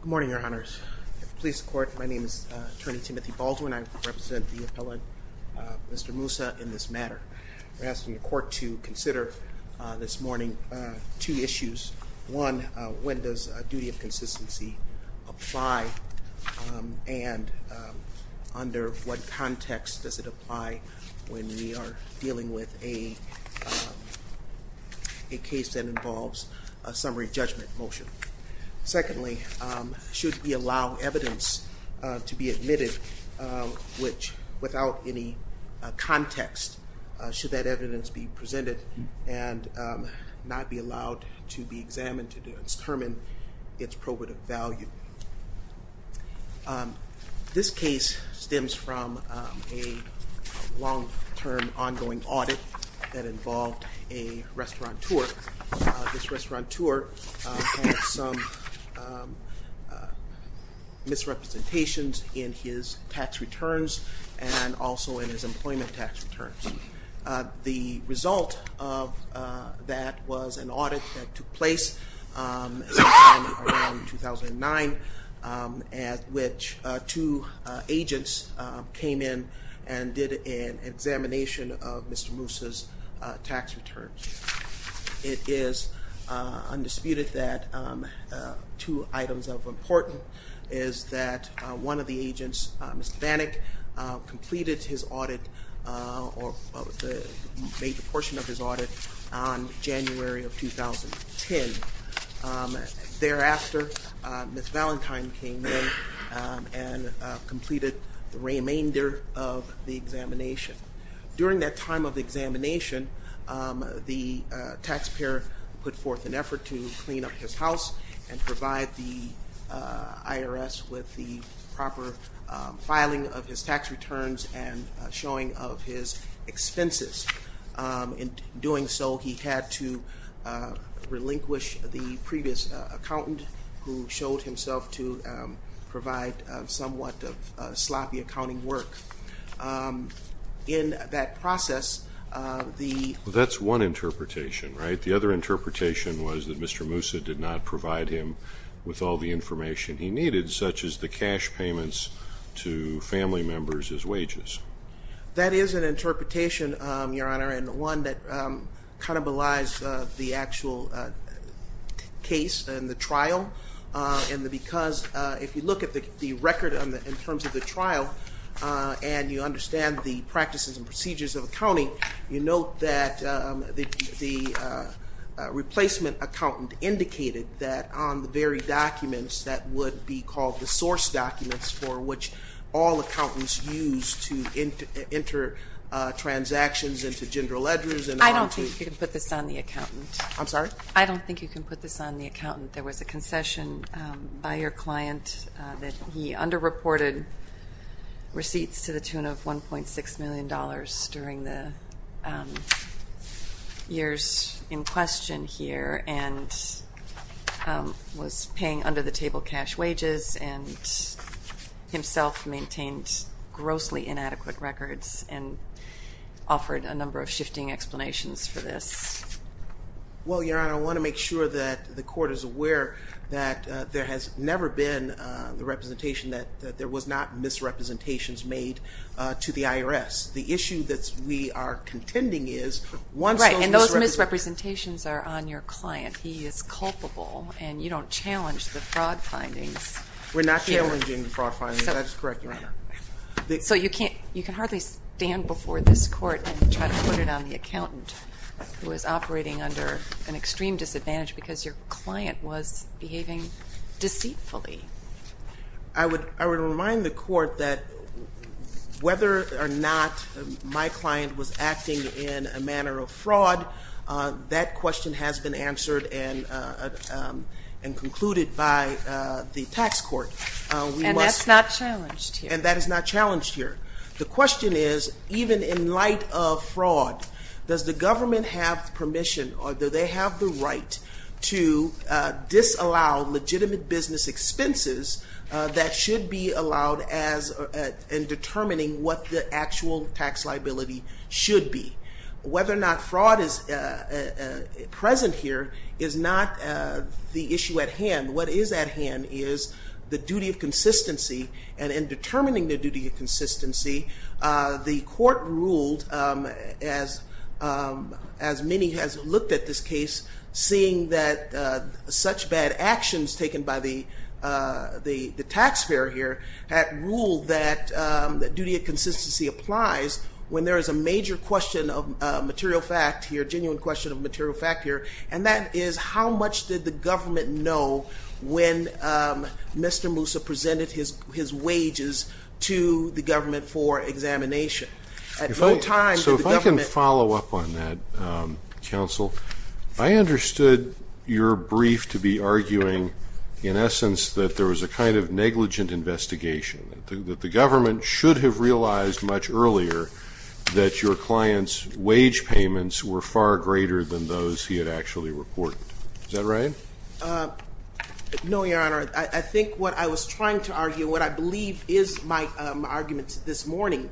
Good morning, your honors. At the police court, my name is attorney Timothy Baldwin. I represent the appellant, Mr. Musa, in this matter. We're asking the court to consider this morning two issues. One, when does a duty of consistency apply and under what context does it apply when we are dealing with a case that involves a summary judgment motion? Secondly, should we allow evidence to be admitted which, without any context, should that evidence be presented and not be allowed to be examined to determine its probative value? This case stems from a long-term ongoing audit that involved a restaurateur. This restaurateur had some misrepresentations in his tax returns and also in his employment tax returns. The result of that was an audit that took place sometime around 2009 at which two agents came in and did an examination of Mr. Musa's tax returns. It is undisputed that two items of importance is that one of the agents, Mr. Bannock, completed his audit or made a portion of his audit on January of 2010. Thereafter, Ms. Valentine came in and completed the remainder of the examination. During that time of examination, the taxpayer put forth an effort to clean up his house and provide the IRS with the proper filing of his tax returns and showing of his expenses. In doing so, he had to relinquish the previous accountant who showed himself to provide somewhat sloppy accounting work. In that process, the... That's one interpretation, right? The other interpretation was that Mr. Musa did not provide him with all the information he needed, such as the cash payments to family members as wages. That is an interpretation, Your Honor, and one that kind of belies the actual case and the trial. And because if you look at the record in terms of the trial and you understand the practices and procedures of accounting, you note that the replacement accountant indicated that on the very documents that would be called the source documents for which all accountants use to... I don't think you can put this on the accountant. I'm sorry? I don't think you can put this on the accountant. There was a concession by your client that he under-reported receipts to the tune of $1.6 million during the years in question here and was paying under-the-table cash wages and himself maintained grossly inadequate... ...records and offered a number of shifting explanations for this. Well, Your Honor, I want to make sure that the court is aware that there has never been the representation that there was not misrepresentations made to the IRS. The issue that we are contending is... Right, and those misrepresentations are on your client. He is culpable and you don't challenge the fraud findings. We're not challenging the fraud findings. That is correct, Your Honor. So you can hardly stand before this court and try to put it on the accountant who is operating under an extreme disadvantage because your client was behaving deceitfully. I would remind the court that whether or not my client was acting in a manner of fraud, that question has been answered and concluded by the tax court. And that is not challenged here. The question is, even in light of fraud, does the government have permission or do they have the right to disallow legitimate business expenses that should be allowed in determining what the actual tax liability should be? Whether or not fraud is present here is not the issue at hand. What is at hand is the duty of consistency. And in determining the duty of consistency, the court ruled, as many have looked at this case, seeing that such bad actions taken by the taxpayer here... that duty of consistency applies when there is a major question of material fact here, a genuine question of material fact here. And that is, how much did the government know when Mr. Moussa presented his wages to the government for examination? So if I can follow up on that, counsel, I understood your brief to be arguing, in essence, that there was a kind of negligent investigation, that the government should have realized much earlier that your client's wage payments were far greater than those he had actually reported. Is that right? No, Your Honor. I think what I was trying to argue, what I believe is my argument this morning,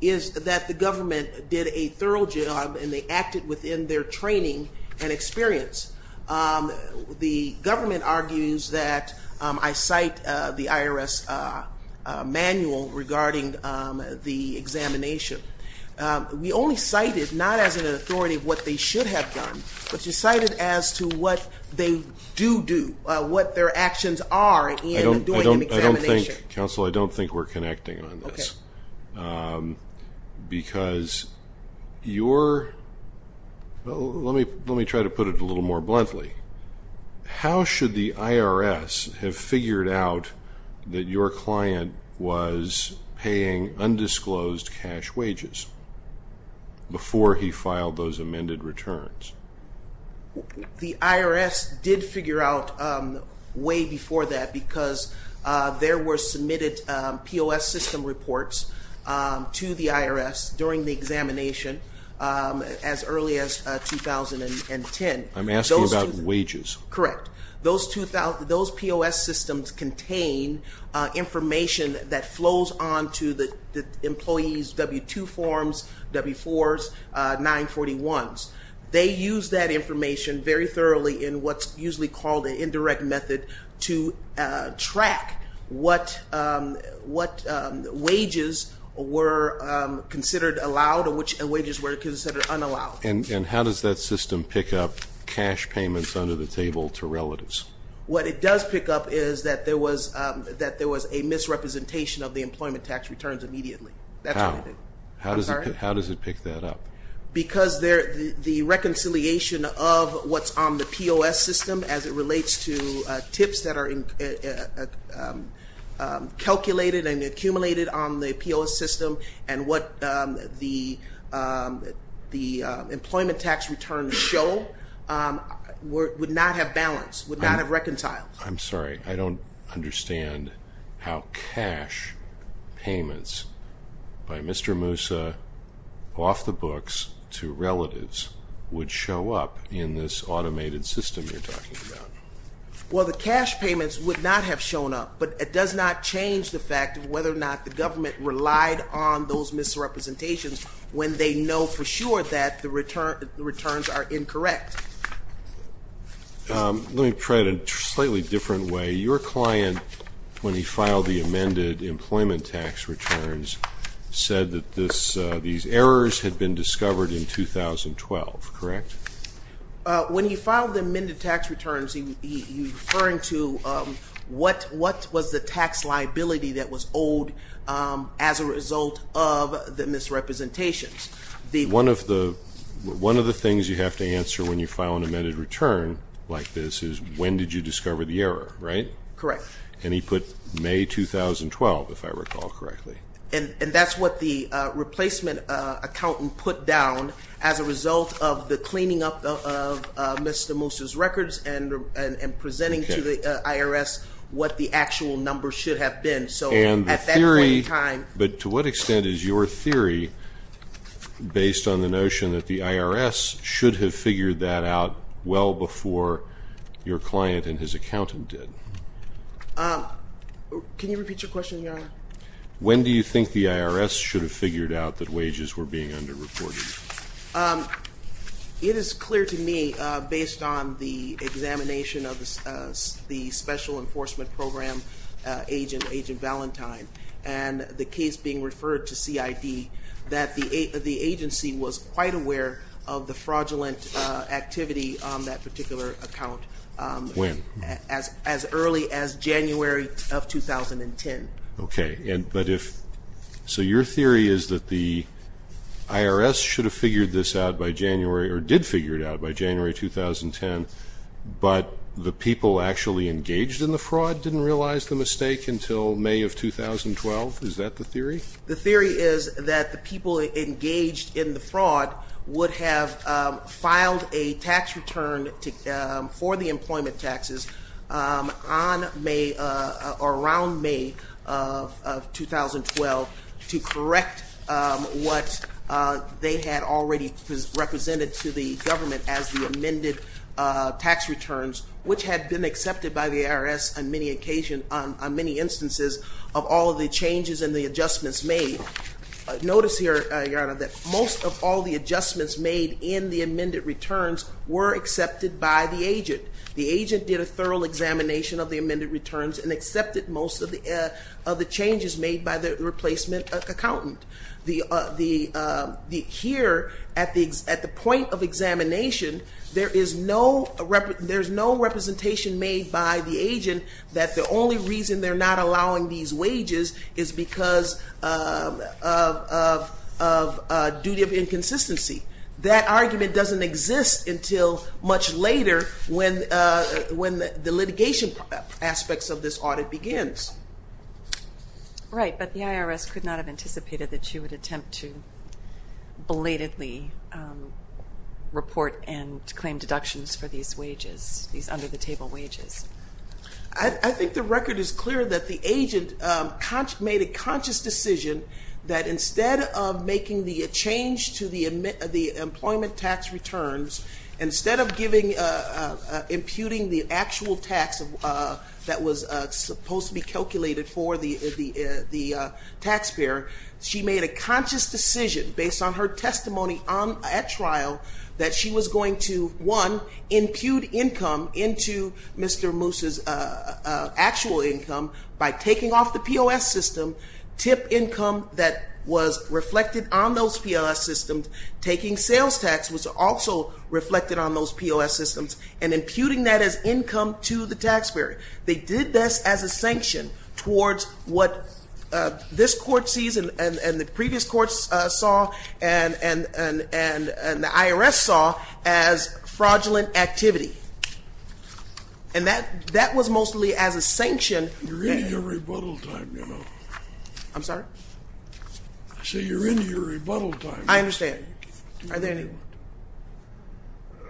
is that the government did a thorough job and they acted within their training and experience. The government argues that, I cite the IRS manual regarding the examination. We only cite it not as an authority of what they should have done, but you cite it as to what they do do, what their actions are in doing an examination. I don't think, counsel, I don't think we're connecting on this. Because your... let me try to put it a little more bluntly. How should the IRS have figured out that your client was paying undisclosed cash wages before he filed those amended returns? The IRS did figure out way before that because there were submitted POS system reports to the IRS during the examination as early as 2010. I'm asking about wages. Correct. Those POS systems contain information that flows on to the employee's W-2 forms, W-4s, 941s. They use that information very thoroughly in what's usually called an indirect method to track what wages were considered allowed and which wages were considered unallowed. And how does that system pick up cash payments under the table to relatives? What it does pick up is that there was a misrepresentation of the employment tax returns immediately. How? I'm sorry? How does it pick that up? Because the reconciliation of what's on the POS system as it relates to tips that are calculated and accumulated on the POS system and what the employment tax returns show would not have balanced, would not have reconciled. I'm sorry. I don't understand how cash payments by Mr. Moussa off the books to relatives would show up in this automated system you're talking about. Well, the cash payments would not have shown up, but it does not change the fact of whether or not the government relied on those misrepresentations when they know for sure that the returns are incorrect. Let me try it in a slightly different way. Your client, when he filed the amended employment tax returns, said that these errors had been discovered in 2012, correct? When he filed the amended tax returns, he was referring to what was the tax liability that was owed as a result of the misrepresentations. One of the things you have to answer when you file an amended return like this is when did you discover the error, right? Correct. And he put May 2012, if I recall correctly. And that's what the replacement accountant put down as a result of the cleaning up of Mr. Moussa's records and presenting to the IRS what the actual numbers should have been. But to what extent is your theory based on the notion that the IRS should have figured that out well before your client and his accountant did? Can you repeat your question, Your Honor? When do you think the IRS should have figured out that wages were being underreported? It is clear to me, based on the examination of the special enforcement program agent, Agent Valentine, and the case being referred to CID, that the agency was quite aware of the fraudulent activity on that particular account. When? As early as January of 2010. Okay. So your theory is that the IRS should have figured this out by January, or did figure it out by January 2010, but the people actually engaged in the fraud didn't realize the mistake until May of 2012? Is that the theory? The theory is that the people engaged in the fraud would have filed a tax return for the employment taxes around May of 2012 to correct what they had already represented to the government as the amended tax returns, which had been accepted by the IRS on many instances of all of the changes and the adjustments made. Notice here, Your Honor, that most of all the adjustments made in the amended returns were accepted by the agent. The agent did a thorough examination of the amended returns and accepted most of the changes made by the replacement accountant. Here, at the point of examination, there is no representation made by the agent that the only reason they're not allowing these wages is because of duty of inconsistency. That argument doesn't exist until much later when the litigation aspects of this audit begins. Right, but the IRS could not have anticipated that you would attempt to belatedly report and claim deductions for these wages, these under-the-table wages. I think the record is clear that the agent made a conscious decision that instead of making the change to the employment tax returns, instead of imputing the actual tax that was supposed to be calculated for the taxpayer, she made a conscious decision based on her testimony at trial that she was going to, one, impute income into Mr. Moose's actual income by taking off the POS system, tip income that was reflected on those POS systems, taking sales tax which was also reflected on those POS systems, and imputing that as income to the taxpayer. They did this as a sanction towards what this court sees and the previous courts saw and the IRS saw as fraudulent activity. You're in your rebuttal time now. I'm sorry? I said you're in your rebuttal time. I understand. Are there any?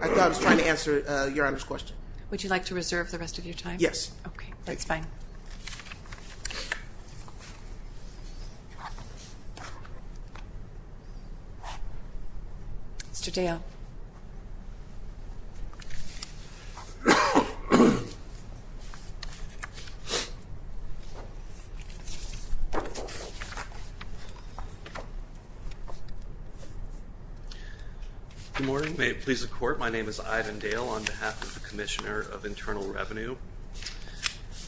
I thought I was trying to answer Your Honor's question. Would you like to reserve the rest of your time? Yes. Okay, that's fine. Mr. Dale. Good morning. May it please the Court, my name is Ivan Dale on behalf of the Commissioner of Internal Revenue.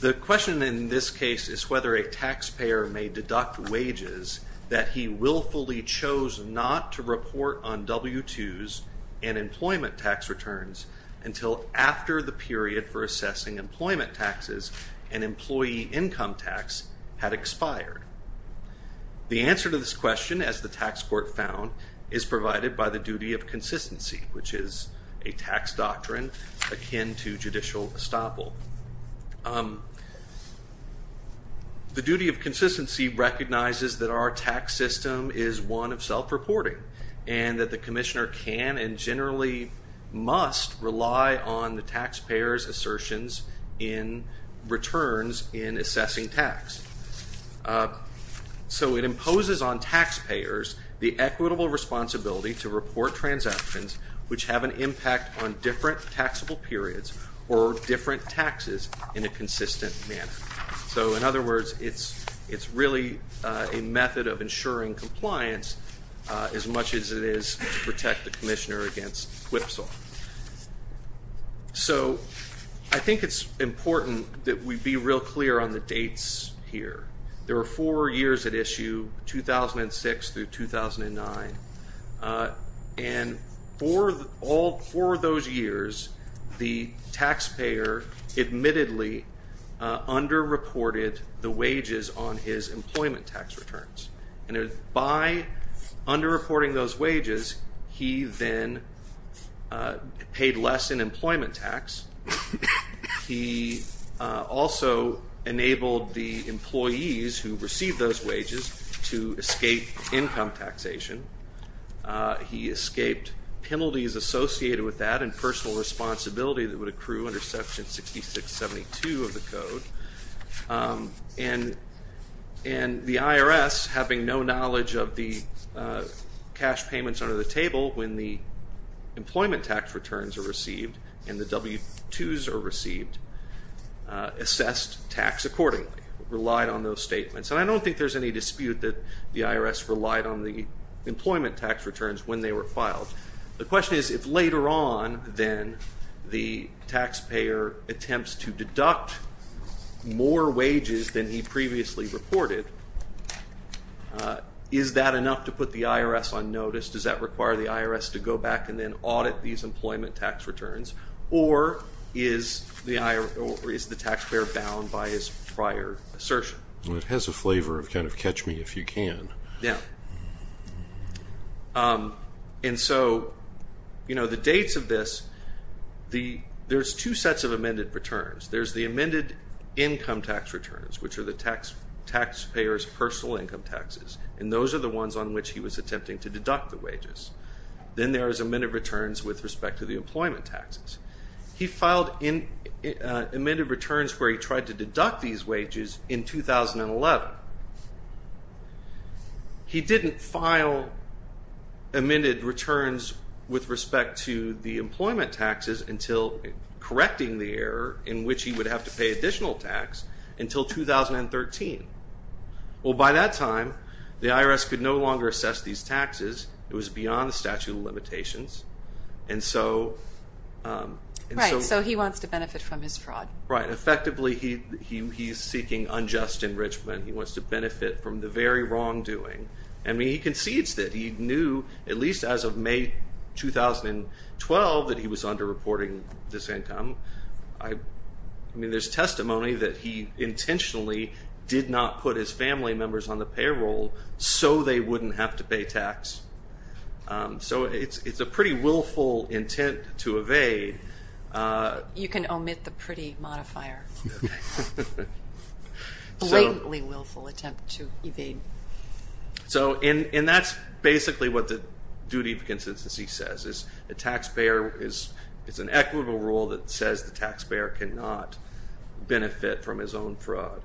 The question in this case is whether a taxpayer may deduct wages that he willfully chose not to report on W-2s and employment tax returns until after the period for assessing employment taxes and employee income tax had expired. The answer to this question, as the tax court found, is provided by the duty of consistency, which is a tax doctrine akin to judicial estoppel. The duty of consistency recognizes that our tax system is one of self-reporting and that the commissioner can and generally must rely on the taxpayer's assertions in returns in assessing tax. So it imposes on taxpayers the equitable responsibility to report transactions which have an impact on different taxable periods or different taxes in a consistent manner. So in other words, it's really a method of ensuring compliance as much as it is to protect the commissioner against whipsaw. So I think it's important that we be real clear on the dates here. There were four years at issue, 2006 through 2009, and for all four of those years, the taxpayer admittedly underreported the wages on his employment tax returns. And by underreporting those wages, he then paid less in employment tax. He also enabled the employees who received those wages to escape income taxation. He escaped penalties associated with that and personal responsibility that would accrue under Section 6672 of the Code. And the IRS, having no knowledge of the cash payments under the table when the employment tax returns are received and the W-2s are received, assessed tax accordingly, relied on those statements. And I don't think there's any dispute that the IRS relied on the employment tax returns when they were filed. The question is, if later on, then, the taxpayer attempts to deduct more wages than he previously reported, is that enough to put the IRS on notice? Does that require the IRS to go back and then audit these employment tax returns? Or is the taxpayer bound by his prior assertion? It has a flavor of kind of catch me if you can. Yeah. And so, you know, the dates of this, there's two sets of amended returns. There's the amended income tax returns, which are the taxpayer's personal income taxes. And those are the ones on which he was attempting to deduct the wages. Then there is amended returns with respect to the employment taxes. He filed amended returns where he tried to deduct these wages in 2011. He didn't file amended returns with respect to the employment taxes until correcting the error in which he would have to pay additional tax until 2013. Well, by that time, the IRS could no longer assess these taxes. Right. So he wants to benefit from his fraud. Right. Effectively, he's seeking unjust enrichment. He wants to benefit from the very wrongdoing. I mean, he concedes that. He knew, at least as of May 2012, that he was underreporting this income. I mean, there's testimony that he intentionally did not put his family members on the payroll so they wouldn't have to pay tax. So it's a pretty willful intent to evade. You can omit the pretty modifier. Blatantly willful attempt to evade. And that's basically what the duty of consistency says. It's an equitable rule that says the taxpayer cannot benefit from his own fraud.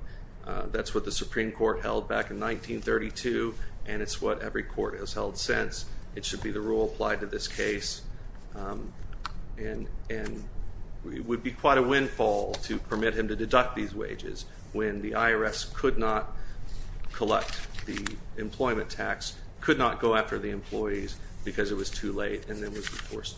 That's what the Supreme Court held back in 1932, and it's what every court has held since. It should be the rule applied to this case. And it would be quite a windfall to permit him to deduct these wages when the IRS could not collect the employment tax, could not go after the employees because it was too late, and then was reported.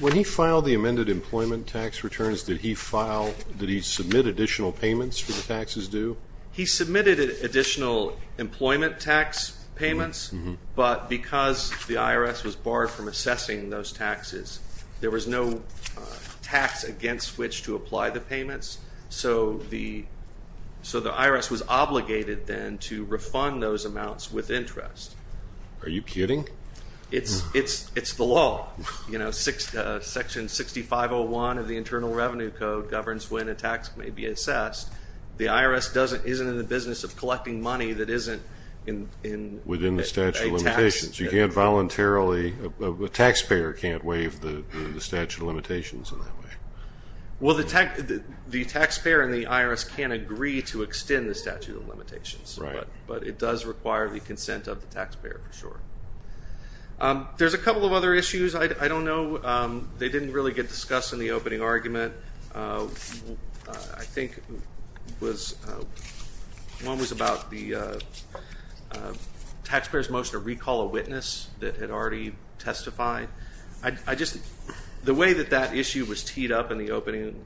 When he filed the amended employment tax returns, did he submit additional payments for the taxes due? He submitted additional employment tax payments, but because the IRS was barred from assessing those taxes, there was no tax against which to apply the payments, so the IRS was obligated then to refund those amounts with interest. Are you kidding? It's the law. Section 6501 of the Internal Revenue Code governs when a tax may be assessed. The IRS isn't in the business of collecting money that isn't a tax. Within the statute of limitations. You can't voluntarily – a taxpayer can't waive the statute of limitations in that way. Well, the taxpayer and the IRS can't agree to extend the statute of limitations. Right. But it does require the consent of the taxpayer for sure. There's a couple of other issues. I don't know. They didn't really get discussed in the opening argument. I think one was about the taxpayer's motion to recall a witness that had already testified. The way that that issue was teed up in the opening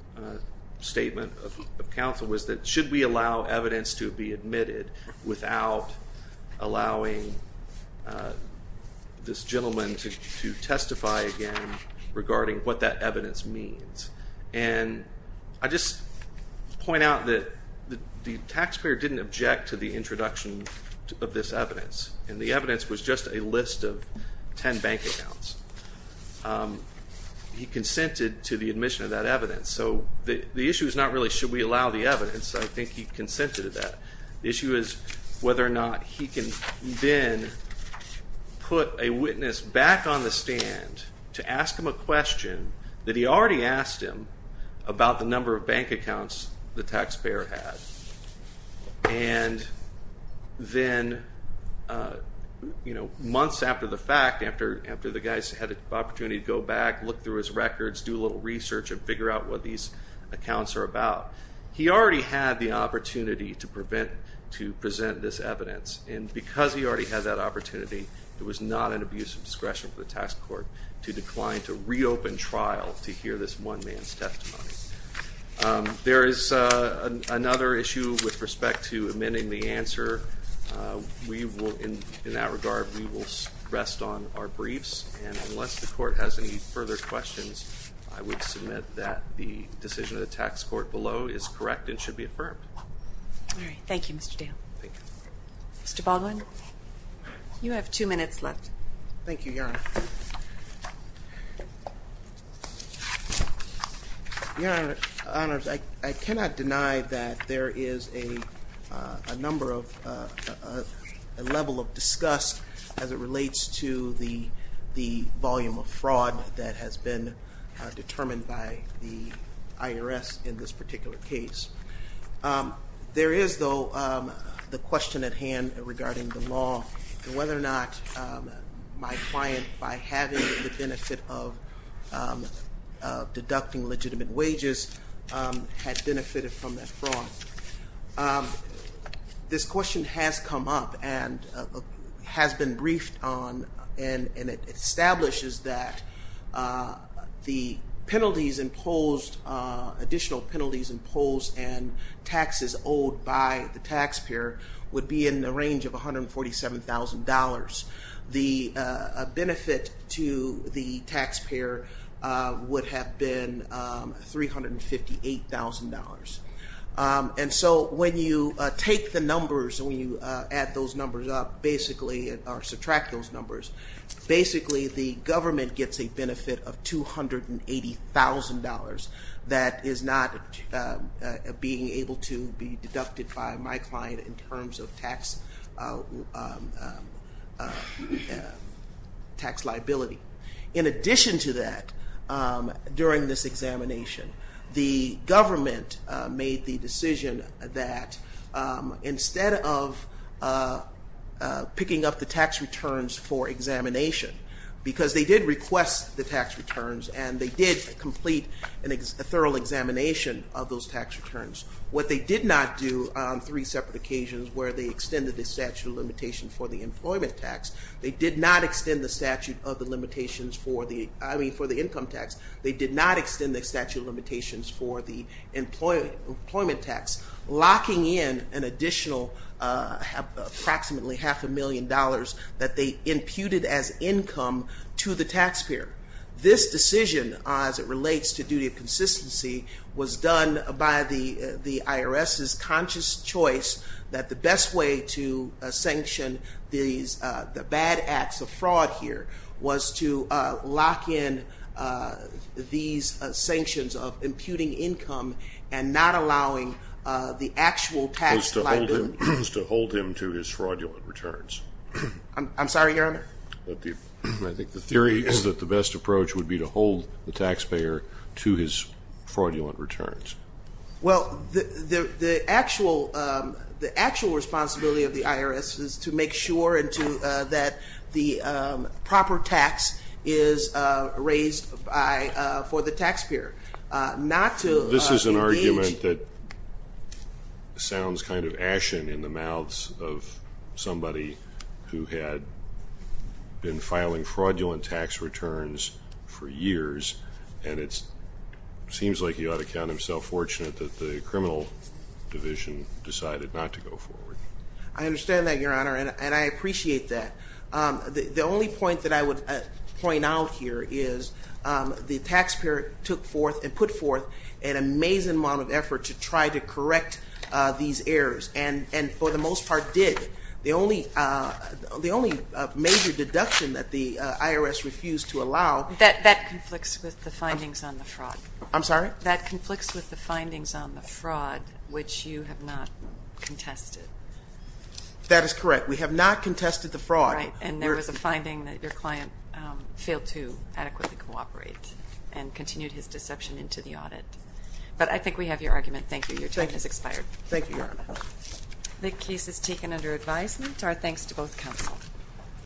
statement of counsel was that should we allow evidence to be admitted without allowing this gentleman to testify again regarding what that evidence means? And I just point out that the taxpayer didn't object to the introduction of this evidence, and the evidence was just a list of 10 bank accounts. He consented to the admission of that evidence. So the issue is not really should we allow the evidence. I think he consented to that. The issue is whether or not he can then put a witness back on the stand to ask him a question that he already asked him about the number of bank accounts the taxpayer had. And then months after the fact, after the guy had the opportunity to go back, look through his records, do a little research, and figure out what these accounts are about, he already had the opportunity to present this evidence, and because he already had that opportunity, it was not an abuse of discretion for the tax court to decline to reopen trial to hear this one man's testimony. There is another issue with respect to admitting the answer. In that regard, we will rest on our briefs, and unless the court has any further questions, I would submit that the decision of the tax court below is correct and should be affirmed. All right. Thank you, Mr. Dale. Thank you. Mr. Baldwin, you have two minutes left. Thank you, Your Honor. Your Honor, I cannot deny that there is a number of, a level of disgust as it relates to the volume of fraud that has been determined by the IRS in this particular case. There is, though, the question at hand regarding the law and whether or not my client, by having the benefit of deducting legitimate wages, had benefited from that fraud. This question has come up and has been briefed on, and it establishes that the penalties imposed, additional penalties imposed, and taxes owed by the taxpayer would be in the range of $147,000. The benefit to the taxpayer would have been $358,000. And so when you take the numbers, when you add those numbers up, basically, or subtract those numbers, basically the government gets a benefit of $280,000 that is not being able to be deducted by my client in terms of tax liability. In addition to that, during this examination, the government made the decision that instead of picking up the tax returns for examination, because they did request the tax returns and they did complete a thorough examination of those tax returns, what they did not do on three separate occasions where they extended the statute of limitation for the employment tax, they did not extend the statute of the limitations for the income tax, they did not extend the statute of limitations for the employment tax, locking in an additional approximately half a million dollars that they imputed as income to the taxpayer. This decision, as it relates to duty of consistency, was done by the IRS's conscious choice that the best way to sanction the bad acts of fraud here was to lock in these sanctions of imputing income and not allowing the actual tax liability. It was to hold him to his fraudulent returns. I'm sorry, Your Honor? I think the theory is that the best approach would be to hold the taxpayer to his fraudulent returns. Well, the actual responsibility of the IRS is to make sure that the proper tax is raised for the taxpayer, not to engage. This is an argument that sounds kind of ashen in the mouths of somebody who had been filing fraudulent tax returns for years, and it seems like he ought to count himself fortunate that the criminal division decided not to go forward. I understand that, Your Honor, and I appreciate that. The only point that I would point out here is the taxpayer took forth and put forth an amazing amount of effort to try to correct these errors, and for the most part did. The only major deduction that the IRS refused to allow That conflicts with the findings on the fraud. I'm sorry? That conflicts with the findings on the fraud, which you have not contested. That is correct. We have not contested the fraud. Right, and there was a finding that your client failed to adequately cooperate and continued his deception into the audit. But I think we have your argument. Thank you. Your time has expired. Thank you, Your Honor. The case is taken under advisement. Our thanks to both counsel.